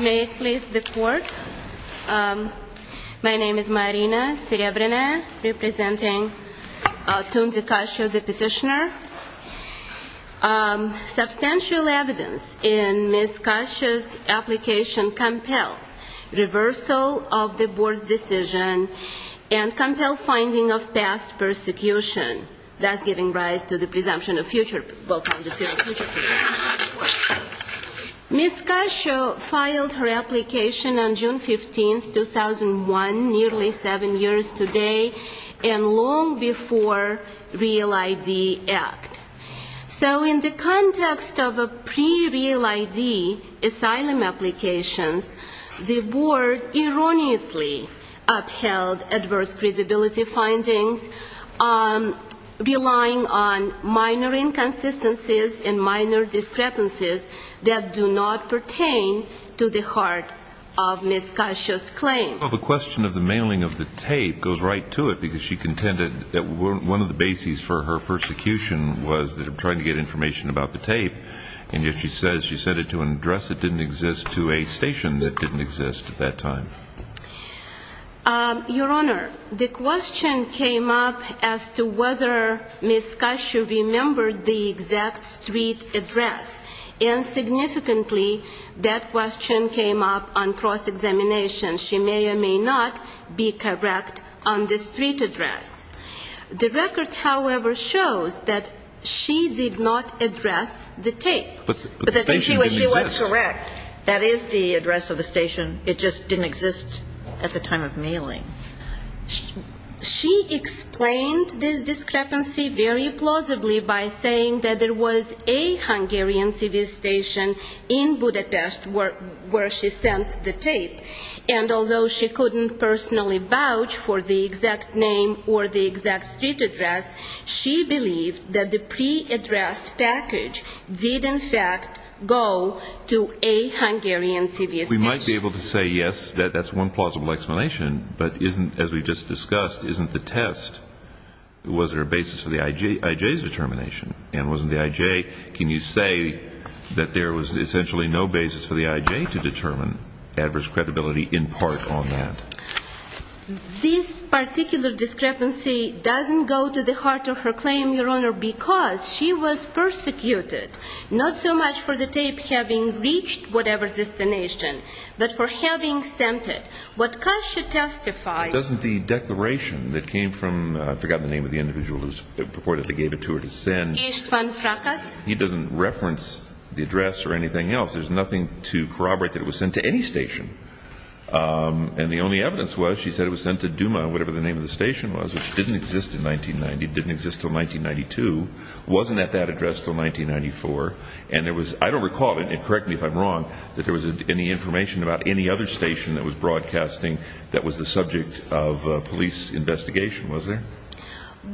May it please the court, my name is Marina Serebryna representing Tunzi Kacso, the petitioner. Substantial evidence in Ms. Kacso's application compel reversal of the board's decision and compel finding of past persecution, thus giving rise to the presumption of future. Ms. Kacso filed her application on June 15, 2001, nearly seven years today, and long before Real ID Act. So in the context of a pre-Real ID asylum applications, the board erroneously upheld adverse credibility findings relying on minor inconsistencies and minor discrepancies that do not pertain to the heart of Ms. Kacso's claim. Well, the question of the mailing of the tape goes right to it because she contended that one of the bases for her persecution was trying to get information about the tape, and yet she says she sent it to an address that didn't exist, to a station that didn't exist at that time. Your Honor, the question came up as to whether Ms. Kacso remembered the exact street address, and significantly that question came up on cross-examination. She may or may not be correct on the street address. The record, however, shows that she did not address the tape. But the station didn't exist. She explained this discrepancy very plausibly by saying that there was a Hungarian TV station in Budapest where she sent the tape, and although she couldn't personally vouch for the exact name or the exact street address, she believed that the pre-addressed package did in fact go to a Hungarian TV station. We might be able to say, yes, that's one plausible explanation, but as we've just discussed, isn't the test, was there a basis for the IJ's determination? And wasn't the IJ, can you say that there was essentially no basis for the IJ to determine adverse credibility in part on that? This particular discrepancy doesn't go to the heart of her claim, Your Honor, because she was persecuted, not so much for the tape having reached whatever destination, but for having sent it. What Kacso testified… Doesn't the declaration that came from, I've forgotten the name of the individual who purportedly gave it to her to send… Istvan Frakas. He doesn't reference the address or anything else. There's nothing to corroborate that it was sent to any station. And the only evidence was she said it was sent to Duma, whatever the name of the station was, which didn't exist in 1990, didn't exist until 1992, wasn't at that address until 1994. And there was, I don't recall, and correct me if I'm wrong, that there was any information about any other station that was broadcasting that was the subject of a police investigation, was there?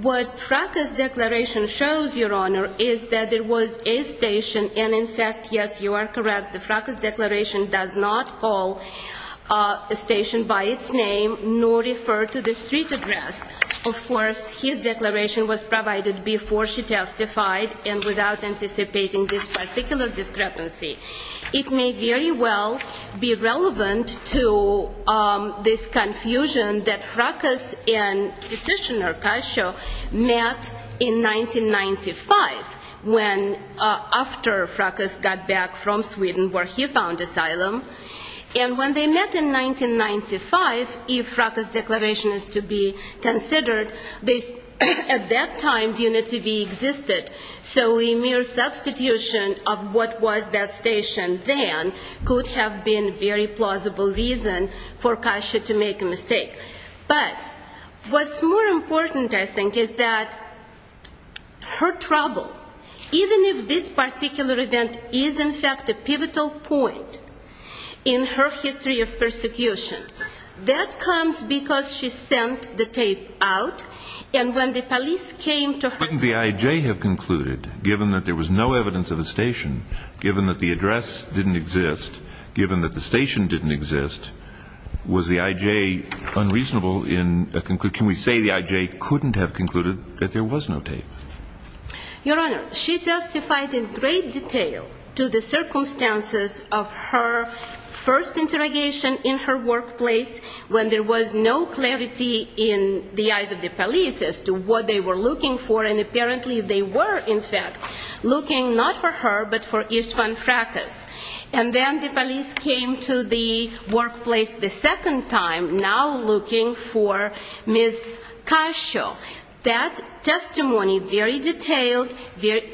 What Frakas' declaration shows, Your Honor, is that there was a station, and in fact, yes, you are correct, the Frakas declaration does not call a station by its name nor refer to the street address. Of course, his declaration was provided before she testified and without anticipating this particular discrepancy. It may very well be relevant to this confusion that Frakas and Petitioner Kasho met in 1995, when, after Frakas got back from Sweden where he found asylum. And when they met in 1995, if Frakas' declaration is to be considered, at that time, Duma TV existed. So a mere substitution of what was that station then could have been a very plausible reason for Kasho to make a mistake. But what's more important, I think, is that her trouble, even if this particular event is, in fact, a pivotal point in her history of persecution, that comes because she sent the tape out and when the police came to her. Couldn't the I.J. have concluded, given that there was no evidence of a station, given that the address didn't exist, given that the station didn't exist, was the I.J. unreasonable in, can we say the I.J. couldn't have concluded that there was no tape? Your Honor, she testified in great detail to the circumstances of her first interrogation in her workplace when there was no clarity in the eyes of the police as to what they were looking for. And apparently they were, in fact, looking not for her but for Istvan Frakas. And then the police came to the workplace the second time, now looking for Ms. Kasho. That testimony, very detailed,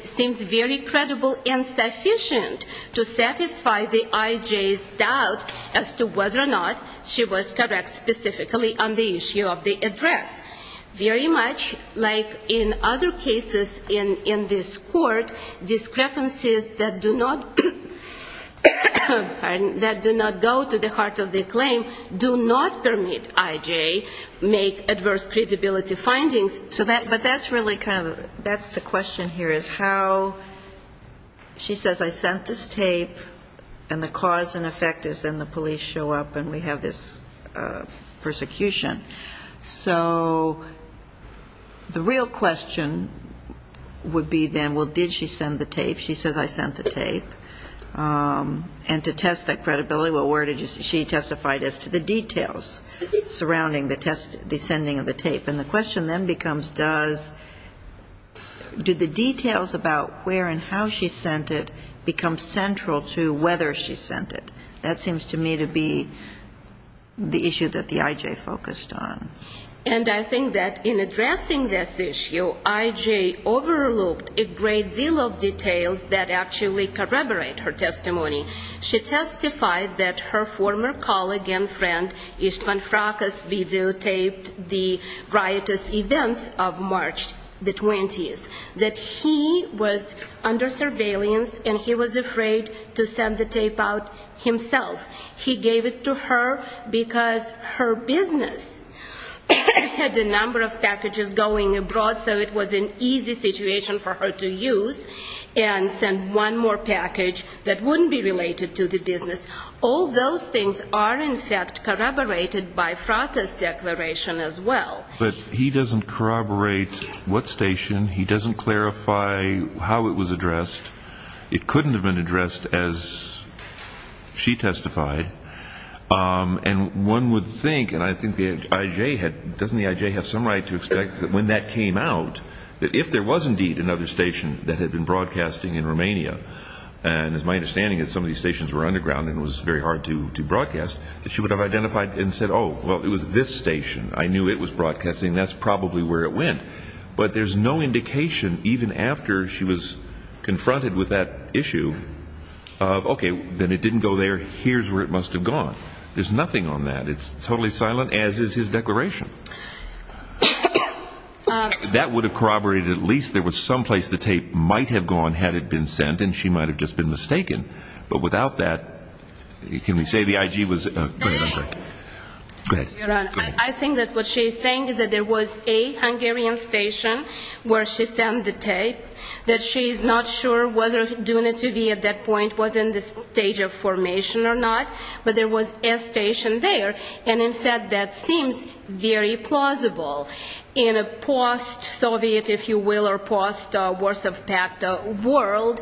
seems very credible and sufficient to satisfy the I.J.'s doubt as to whether or not she was correct specifically on the issue of the address. Very much like in other cases in this court, discrepancies that do not go to the heart of the claim do not permit I.J. make adverse credibility findings. But that's really kind of, that's the question here is how, she says I sent this tape and the cause and effect is then the police show up and we have this persecution. So the real question would be then, well, did she send the tape? She says I sent the tape. And to test that credibility, well, where did you see, she testified as to the details surrounding the sending of the tape. And the question then becomes does, do the details about where and how she sent it become central to whether she sent it? That seems to me to be the issue that the I.J. focused on. And I think that in addressing this issue, I.J. overlooked a great deal of details that actually corroborate her testimony. She testified that her former colleague and friend, Istvan Frakas, videotaped the riotous events of March the 20th. That he was under surveillance and he was afraid to send the tape out himself. He gave it to her because her business had a number of packages going abroad so it was an easy situation for her to use and send one more package that wouldn't be related to the business. All those things are in fact corroborated by Frakas' declaration as well. But he doesn't corroborate what station. He doesn't clarify how it was addressed. It couldn't have been addressed as she testified. And one would think, and I think the I.J. had, doesn't the I.J. have some right to expect that when that came out, that if there was indeed another station that had been broadcasting in Romania, and as my understanding is some of these stations were underground and it was very hard to broadcast, that she would have identified and said, oh, well, it was this station. I knew it was broadcasting. That's probably where it went. But there's no indication even after she was confronted with that issue of, okay, then it didn't go there. Here's where it must have gone. There's nothing on that. It's totally silent, as is his declaration. That would have corroborated at least there was some place the tape might have gone had it been sent, and she might have just been mistaken. But without that, can we say the I.J. was? I think that's what she's saying, that there was a Hungarian station where she sent the tape, that she's not sure whether Duna TV at that point was in the stage of formation or not, but there was a station there. And, in fact, that seems very plausible. In a post-Soviet, if you will, or post-Warsaw Pact world,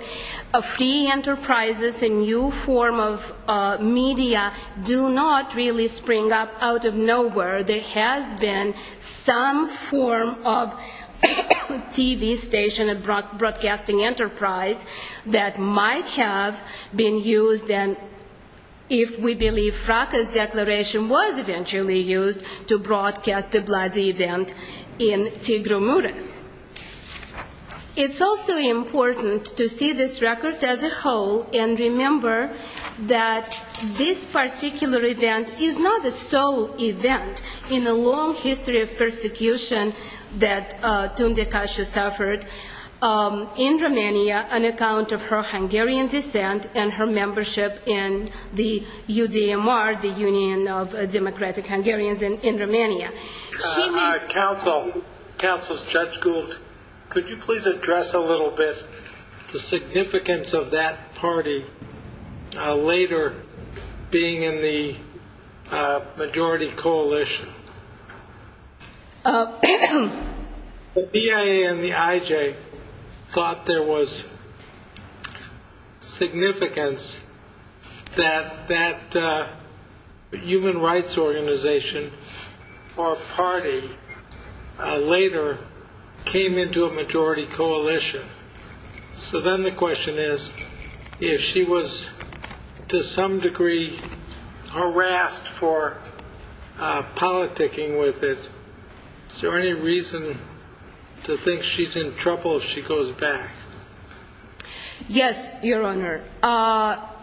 free enterprises, a new form of media do not really spring up out of nowhere. There has been some form of TV station, a broadcasting enterprise that might have been used, and if we believe Fraka's declaration was eventually used to broadcast the bloody event in Tigromoros. It's also important to see this record as a whole and remember that this particular event is not the sole event in the long history of persecution that Tunde Kasia suffered in Romania on account of her Hungarian descent and her membership in the UDMR, the Union of Democratic Hungarians in Romania. Counsel, Judge Gould, could you please address a little bit the significance of that party later being in the majority coalition? The BIA and the IJ thought there was significance that that human rights organization or party later came into a majority coalition. So then the question is, if she was to some degree harassed for politicking with it, is there any reason to think she's in trouble if she goes back? Yes, Your Honor,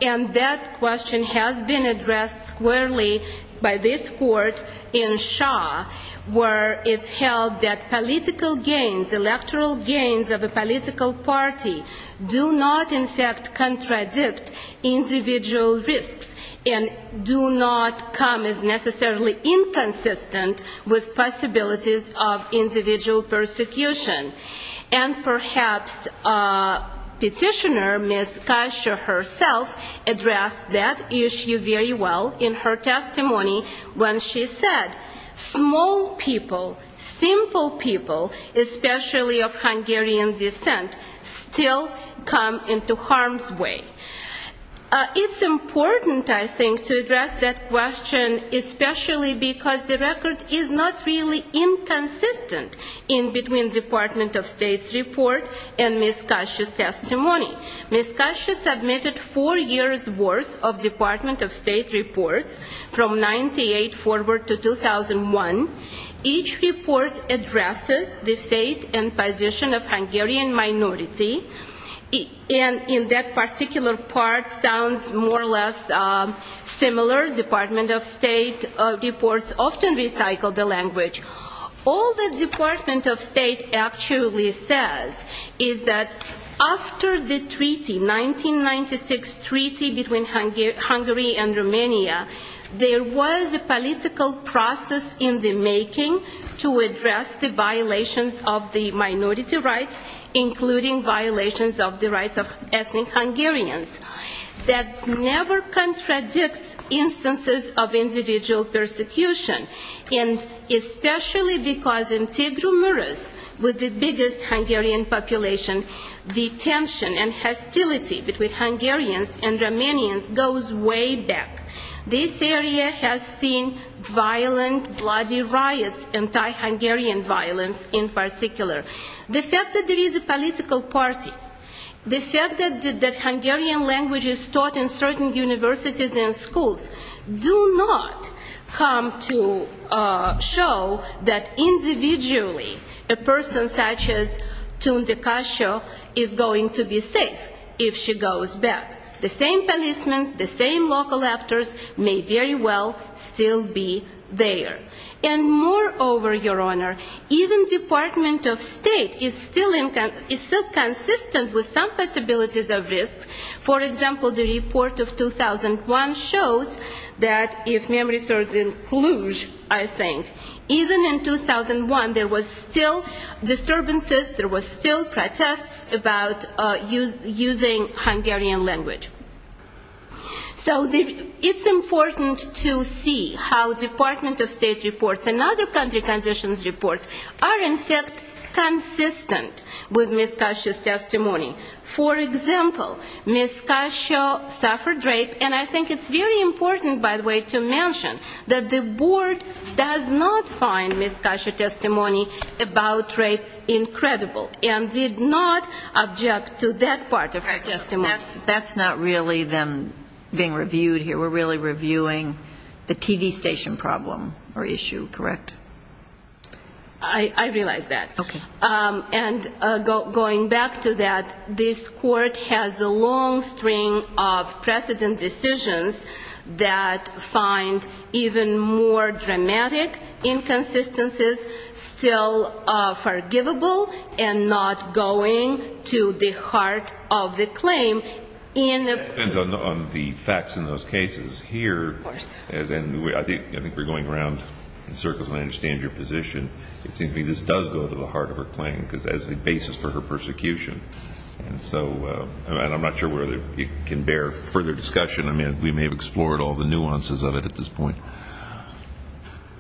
and that question has been addressed squarely by this court in Shaw where it's held that political gains, electoral gains of a political party do not in fact contradict individual risks and do not come as necessarily inconsistent with possibilities of individual persecution. And perhaps Petitioner Ms. Kasia herself addressed that issue very well in her testimony when she said, small people, simple people, especially of Hungarian descent, still come into harm's way. It's important, I think, to address that question, especially because the record is not really inconsistent in between Department of State's report and Ms. Kasia's testimony. Ms. Kasia submitted four years' worth of Department of State reports from 98 forward to 2001. Each report addresses the fate and position of Hungarian minority. And in that particular part sounds more or less similar. Department of State reports often recycle the language. All the Department of State actually says is that after the treaty, 1996 treaty between Hungary and Romania, there was a political process in the making to address the violations of the minority rights, including violations of the rights of ethnic Hungarians. That never contradicts instances of individual persecution, and especially because in Tegra Muras, with the biggest Hungarian population, the tension and hostility between Hungarians and Romanians goes way back. This area has seen violent, bloody riots, anti-Hungarian violence in particular. The fact that there is a political party, the fact that Hungarian language is taught in certain universities and schools do not come to show that individually a person such as Tunde Kasia is going to be safe if she goes back. The same policemen, the same local actors may very well still be there. And moreover, Your Honor, even Department of State is still consistent with some possibilities of risk. For example, the report of 2001 shows that if memory serves in Cluj, I think, even in 2001 there were still disturbances, there were still protests about using Hungarian language. So it's important to see how Department of State reports and other country conditions reports are in fact consistent with Ms. Kasia's testimony. For example, Ms. Kasia suffered rape, and I think it's very important, by the way, to mention that the board does not find Ms. Kasia's testimony about rape incredible and did not object to that part of her testimony. That's not really them being reviewed here. We're really reviewing the TV station problem or issue, correct? I realize that. Okay. And going back to that, this court has a long string of precedent decisions that find even more dramatic inconsistencies still forgivable and not going to the heart of the claim. It depends on the facts in those cases here. Of course. And I think we're going around in circles, and I understand your position. It seems to me this does go to the heart of her claim as the basis for her persecution. And so I'm not sure whether it can bear further discussion. I mean, we may have explored all the nuances of it at this point.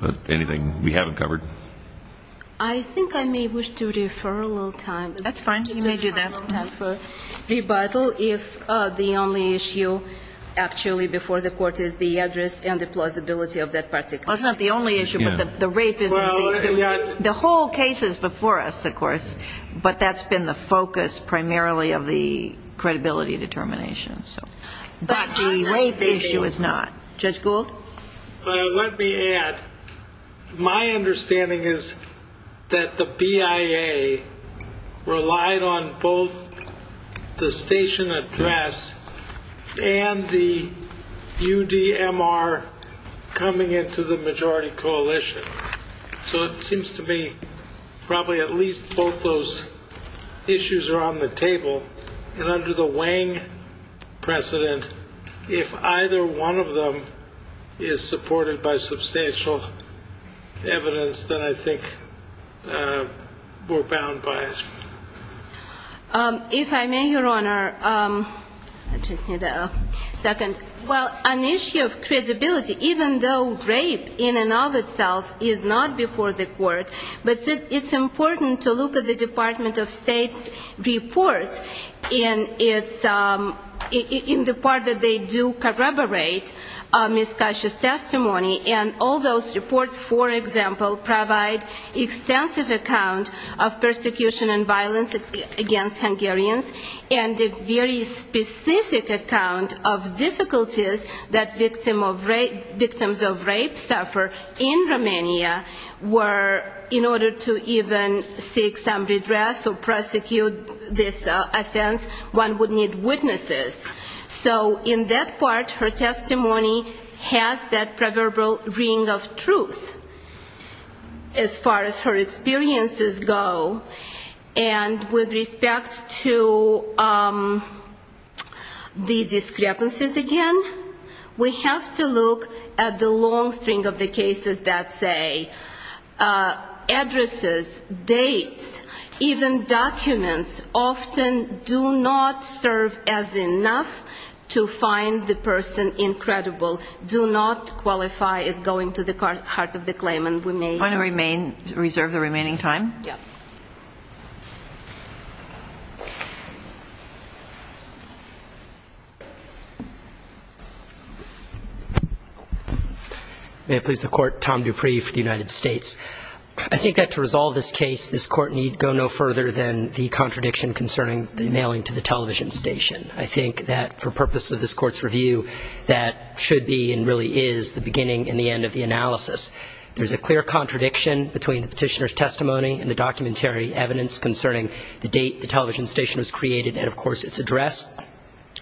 But anything we haven't covered? I think I may wish to defer a little time. That's fine. You may do that. Rebuttal if the only issue actually before the court is the address and the plausibility of that particular case. That's not the only issue, but the rape is. The whole case is before us, of course, but that's been the focus primarily of the credibility determination. But the rape issue is not. Judge Gould? Let me add. My understanding is that the BIA relied on both the station address and the UDMR coming into the majority coalition. So it seems to me probably at least both those issues are on the table. And under the Wang precedent, if either one of them is supported by substantial evidence, then I think we're bound by it. If I may, Your Honor. Well, an issue of credibility, even though rape in and of itself is not before the court, but it's important to look at the Department of State reports in the part that they do corroborate Ms. Cash's testimony. And all those reports, for example, provide extensive account of persecution and violence against Hungarians and a very specific account of difficulties that victims of rape suffer in Romania where in order to even seek some redress or prosecute this offense, one would need witnesses. So in that part, her testimony has that proverbial ring of truth as far as her experiences go. And with respect to the discrepancies again, we have to look at the long string of the cases that say addresses, dates, even documents often do not serve as enough to find the person incredible, do not qualify as going to the heart of the claim. May I please have the court, Tom Dupree for the United States. I think that to resolve this case, this court need go no further than the contradiction concerning the mailing to the television station. I think that for purpose of this court's review, that should be and really is the beginning and the end of the analysis. There's a clear contradiction. There's a clear contradiction. There's a clear contradiction between the petitioner's testimony and the documentary evidence concerning the date the television station was created and of course its address.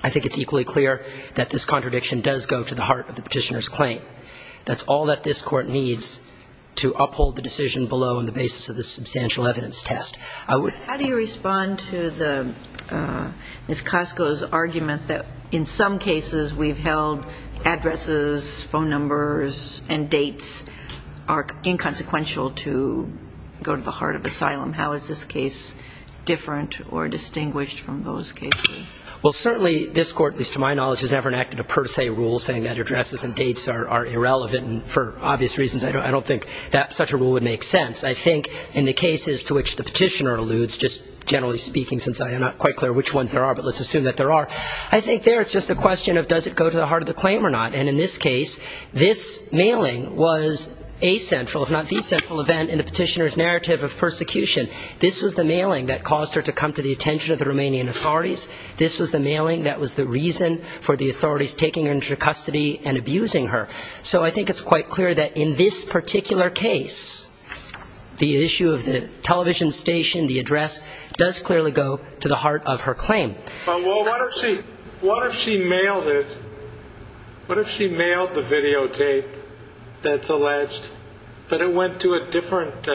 I think it's equally clear that this contradiction does go to the heart of the petitioner's claim. That's all that this court needs to uphold the decision below on the basis of this substantial evidence test. How do you respond to Ms. Cosco's argument that in some cases we've held addresses, phone numbers and dates are inconsequential to go to the heart of asylum? How is this case different or distinguished from those cases? Well, certainly this court, at least to my knowledge, has never enacted a per se rule saying that addresses and dates are irrelevant and for obvious reasons I don't think that such a rule would make sense. I think in the cases to which the petitioner alludes, just generally speaking since I'm not quite clear which ones there are, but let's assume that there are, I think there it's just a question of does it go to the heart of the claim or not. And in this case, this mailing was a central if not the central event in the petitioner's narrative of persecution. This was the mailing that caused her to come to the attention of the Romanian authorities. This was the mailing that was the reason for the authorities taking her into custody and abusing her. So I think it's quite clear that in this particular case, the issue of the television station, the address, does clearly go to the heart of her claim. Well, what if she mailed it? What if she mailed the videotape that's alleged, but it went to a different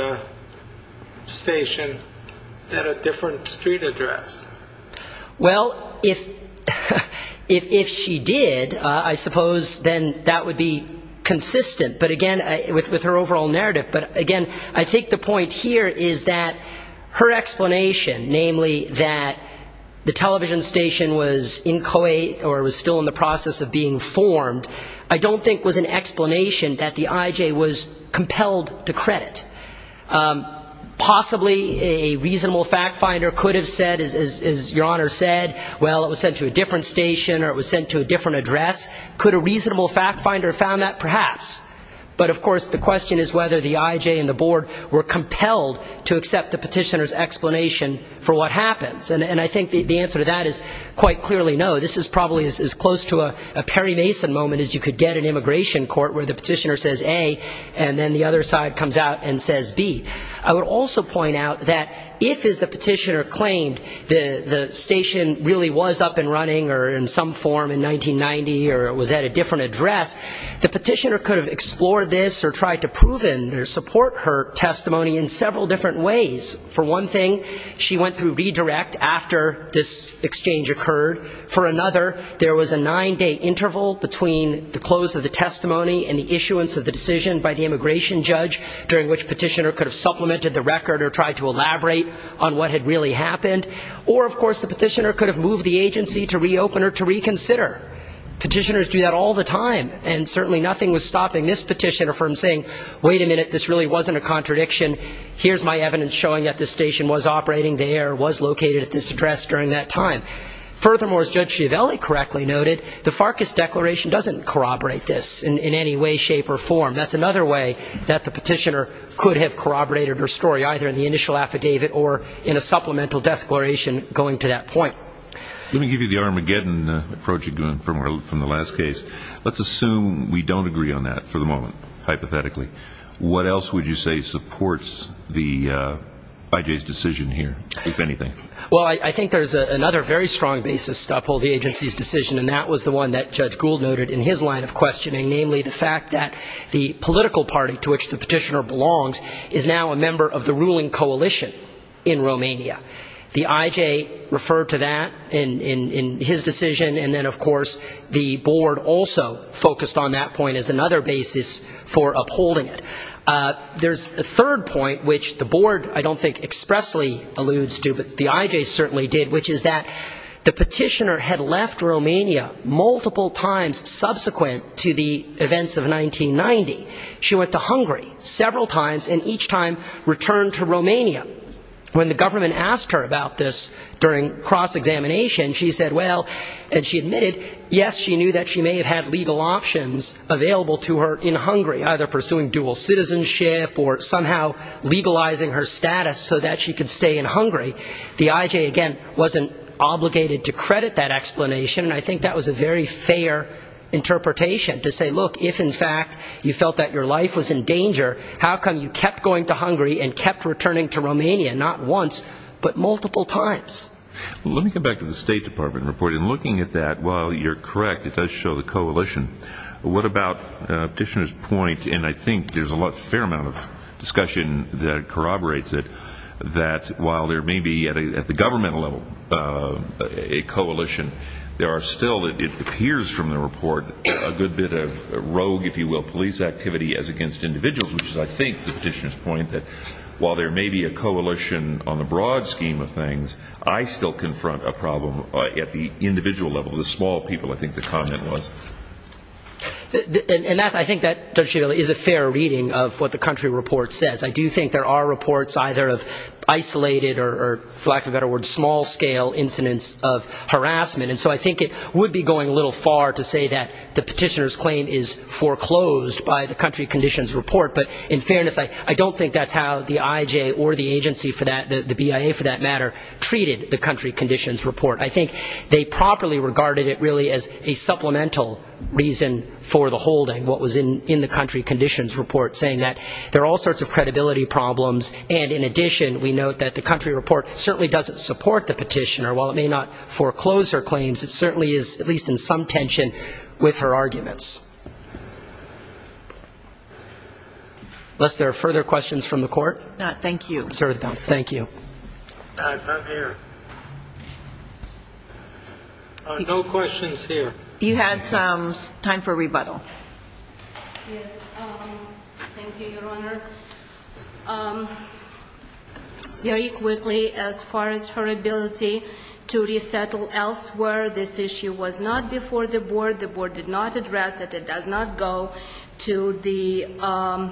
station at a different street address? Well, if she did, I suppose then that would be consistent, but again, with her overall narrative. But again, I think the point here is that her explanation, namely that the television station was inchoate or was still in the process of being formed, I don't think was an explanation that the IJ was compelled to credit. Possibly a reasonable fact finder could have said, as Your Honor said, well, it was sent to a different station or it was sent to a different address. Could a reasonable fact finder have found that? Perhaps. But, of course, the question is whether the IJ and the board were compelled to accept the petitioner's explanation for what happens. And I think the answer to that is quite clearly no. This is probably as close to a Perry Mason moment as you could get in immigration court, where the petitioner says A and then the other side comes out and says B. I would also point out that if, as the petitioner claimed, the station really was up and running or in some form in 1990 or was at a different address, the petitioner could have explored this or tried to prove it or support her testimony in several different ways. For one thing, she went through redirect after this exchange occurred. For another, there was a nine-day interval between the close of the testimony and the issuance of the decision by the immigration judge, during which the petitioner could have supplemented the record or tried to elaborate on what had really happened. Or, of course, the petitioner could have moved the agency to reopen or to reconsider. Petitioners do that all the time. And certainly nothing was stopping this petitioner from saying, Wait a minute, this really wasn't a contradiction. Here's my evidence showing that this station was operating there, was located at this address during that time. Furthermore, as Judge Schiavelli correctly noted, the Farkas Declaration doesn't corroborate this in any way, shape, or form. That's another way that the petitioner could have corroborated her story, either in the initial affidavit or in a supplemental declaration going to that point. Let me give you the Armageddon approach you're doing from the last case. Let's assume we don't agree on that for the moment, hypothetically. What else would you say supports the IJ's decision here, if anything? Well, I think there's another very strong basis to uphold the agency's decision, and that was the one that Judge Gould noted in his line of questioning, namely the fact that the political party to which the petitioner belongs is now a member of the ruling coalition in Romania. The IJ referred to that in his decision, and then, of course, the board also focused on that point as another basis for upholding it. There's a third point, which the board I don't think expressly alludes to, but the IJ certainly did, which is that the petitioner had left Romania multiple times subsequent to the events of 1990. She went to Hungary several times, and each time returned to Romania. When the government asked her about this during cross-examination, she said, well, and she admitted, yes, she knew that she may have had legal options available to her in Hungary, either pursuing dual citizenship or somehow legalizing her status so that she could stay in Hungary. The IJ, again, wasn't obligated to credit that explanation, and I think that was a very fair interpretation, to say, look, if, in fact, you felt that your life was in danger, how come you kept going to Hungary and kept returning to Romania, not once, but multiple times? Let me come back to the State Department report. In looking at that, while you're correct, it does show the coalition, what about the petitioner's point, and I think there's a fair amount of discussion that corroborates it, that while there may be, at the governmental level, a coalition, there are still, it appears from the report, a good bit of rogue, if you will, police activity as against individuals, which is, I think, the petitioner's point, that while there may be a coalition on the broad scheme of things, I still confront a problem at the individual level, the small people, I think the comment was. And I think that, Judge Schiavone, is a fair reading of what the country report says. I do think there are reports either of isolated or, for lack of a better word, small-scale incidents of harassment, and so I think it would be going a little far to say that the petitioner's claim is foreclosed by the country conditions report, but in fairness, I don't think that's how the IJ or the agency for that, the BIA for that matter, treated the country conditions report. I think they properly regarded it really as a supplemental reason for the holding, what was in the country conditions report, saying that there are all sorts of credibility problems, and in addition, we note that the country report certainly doesn't support the petitioner. While it may not foreclose her claims, it certainly is at least in some tension with her arguments. Unless there are further questions from the court. No, thank you. Sir, thank you. I'm here. No questions here. You had some. Time for rebuttal. Yes. Thank you, Your Honor. Very quickly, as far as her ability to resettle elsewhere, this issue was not before the board. The board did not address it. It does not go to the ‑‑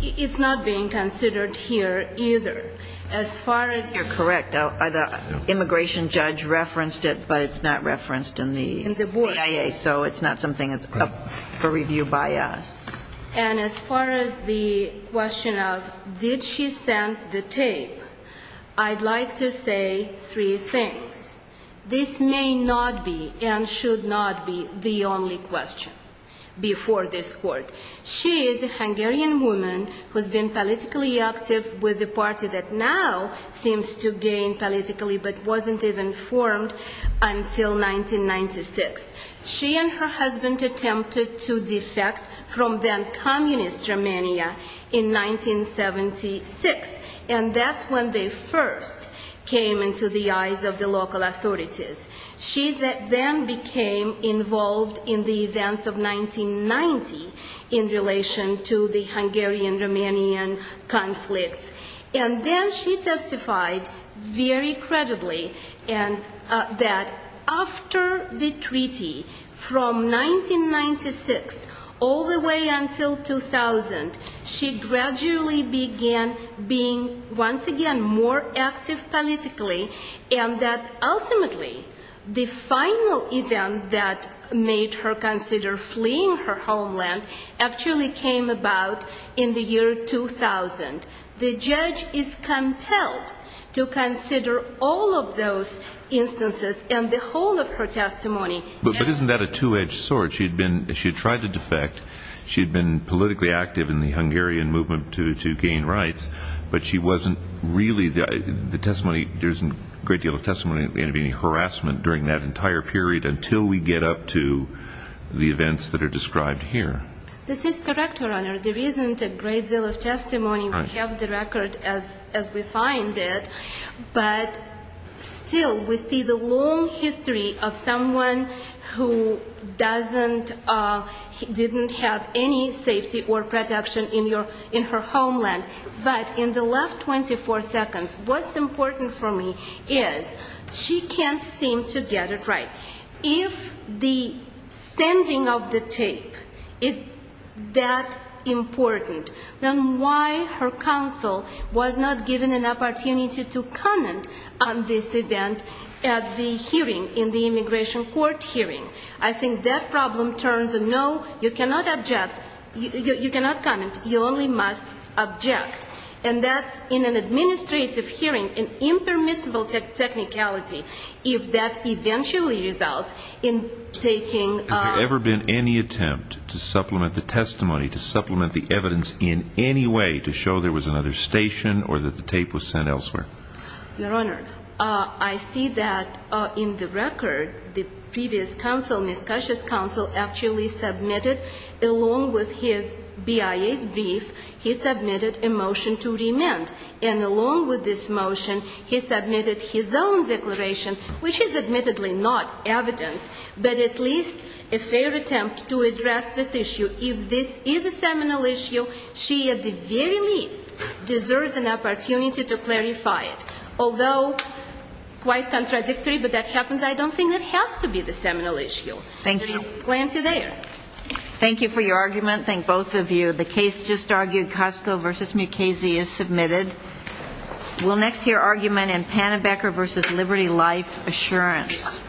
it's not being considered here either. As far as ‑‑ You're correct. The immigration judge referenced it, but it's not referenced in the BIA, so it's not something that's up for review by us. And as far as the question of did she send the tape, I'd like to say three things. This may not be and should not be the only question before this court. She is a Hungarian woman who's been politically active with a party that now seems to gain politically but wasn't even formed until 1996. She and her husband attempted to defect from then communist Romania in 1976, and that's when they first came into the eyes of the local authorities. She then became involved in the events of 1990 in relation to the Hungarian‑Romanian conflicts, and then she testified very credibly that after the treaty was signed, from 1996 all the way until 2000, she gradually began being once again more active politically and that ultimately the final event that made her consider fleeing her homeland actually came about in the year 2000. The judge is compelled to consider all of those instances and the whole of her testimony. But isn't that a two‑edged sword? She had tried to defect, she had been politically active in the Hungarian movement to gain rights, but there isn't a great deal of testimony of any harassment during that entire period until we get up to the events that are described here. This is correct, Your Honor. There isn't a great deal of testimony. We have the record as we find it, but still we see the long history of someone who didn't have any safety or protection in her homeland. But in the last 24 seconds, what's important for me is she can't seem to get it right. If the sending of the tape is that important, then why her counsel was not given an opportunity to comment on this event at the hearing, in the immigration court hearing? I think that problem turns a no, you cannot object, you cannot comment, you only must object. And that in an administrative hearing, an impermissible technicality, if that eventually results in taking ‑‑ Has there ever been any attempt to supplement the testimony, to supplement the evidence in any way to show there was another station or that the tape was sent elsewhere? Your Honor, I see that in the record the previous counsel, Ms. Kasha's counsel, actually submitted along with his BIA's brief, he submitted a motion to remand. And along with this motion, he submitted his own declaration, which is admittedly not evidence, but at least a fair attempt to address this issue. If this is a seminal issue, she at the very least deserves an opportunity to clarify it. Although quite contradictory, but that happens, I don't think it has to be the seminal issue. There is plenty there. Thank you for your argument, thank both of you. The case just argued, Cosco v. Mukasey, is submitted. We'll next hear argument in Pannenbecker v. Liberty Life Assurance.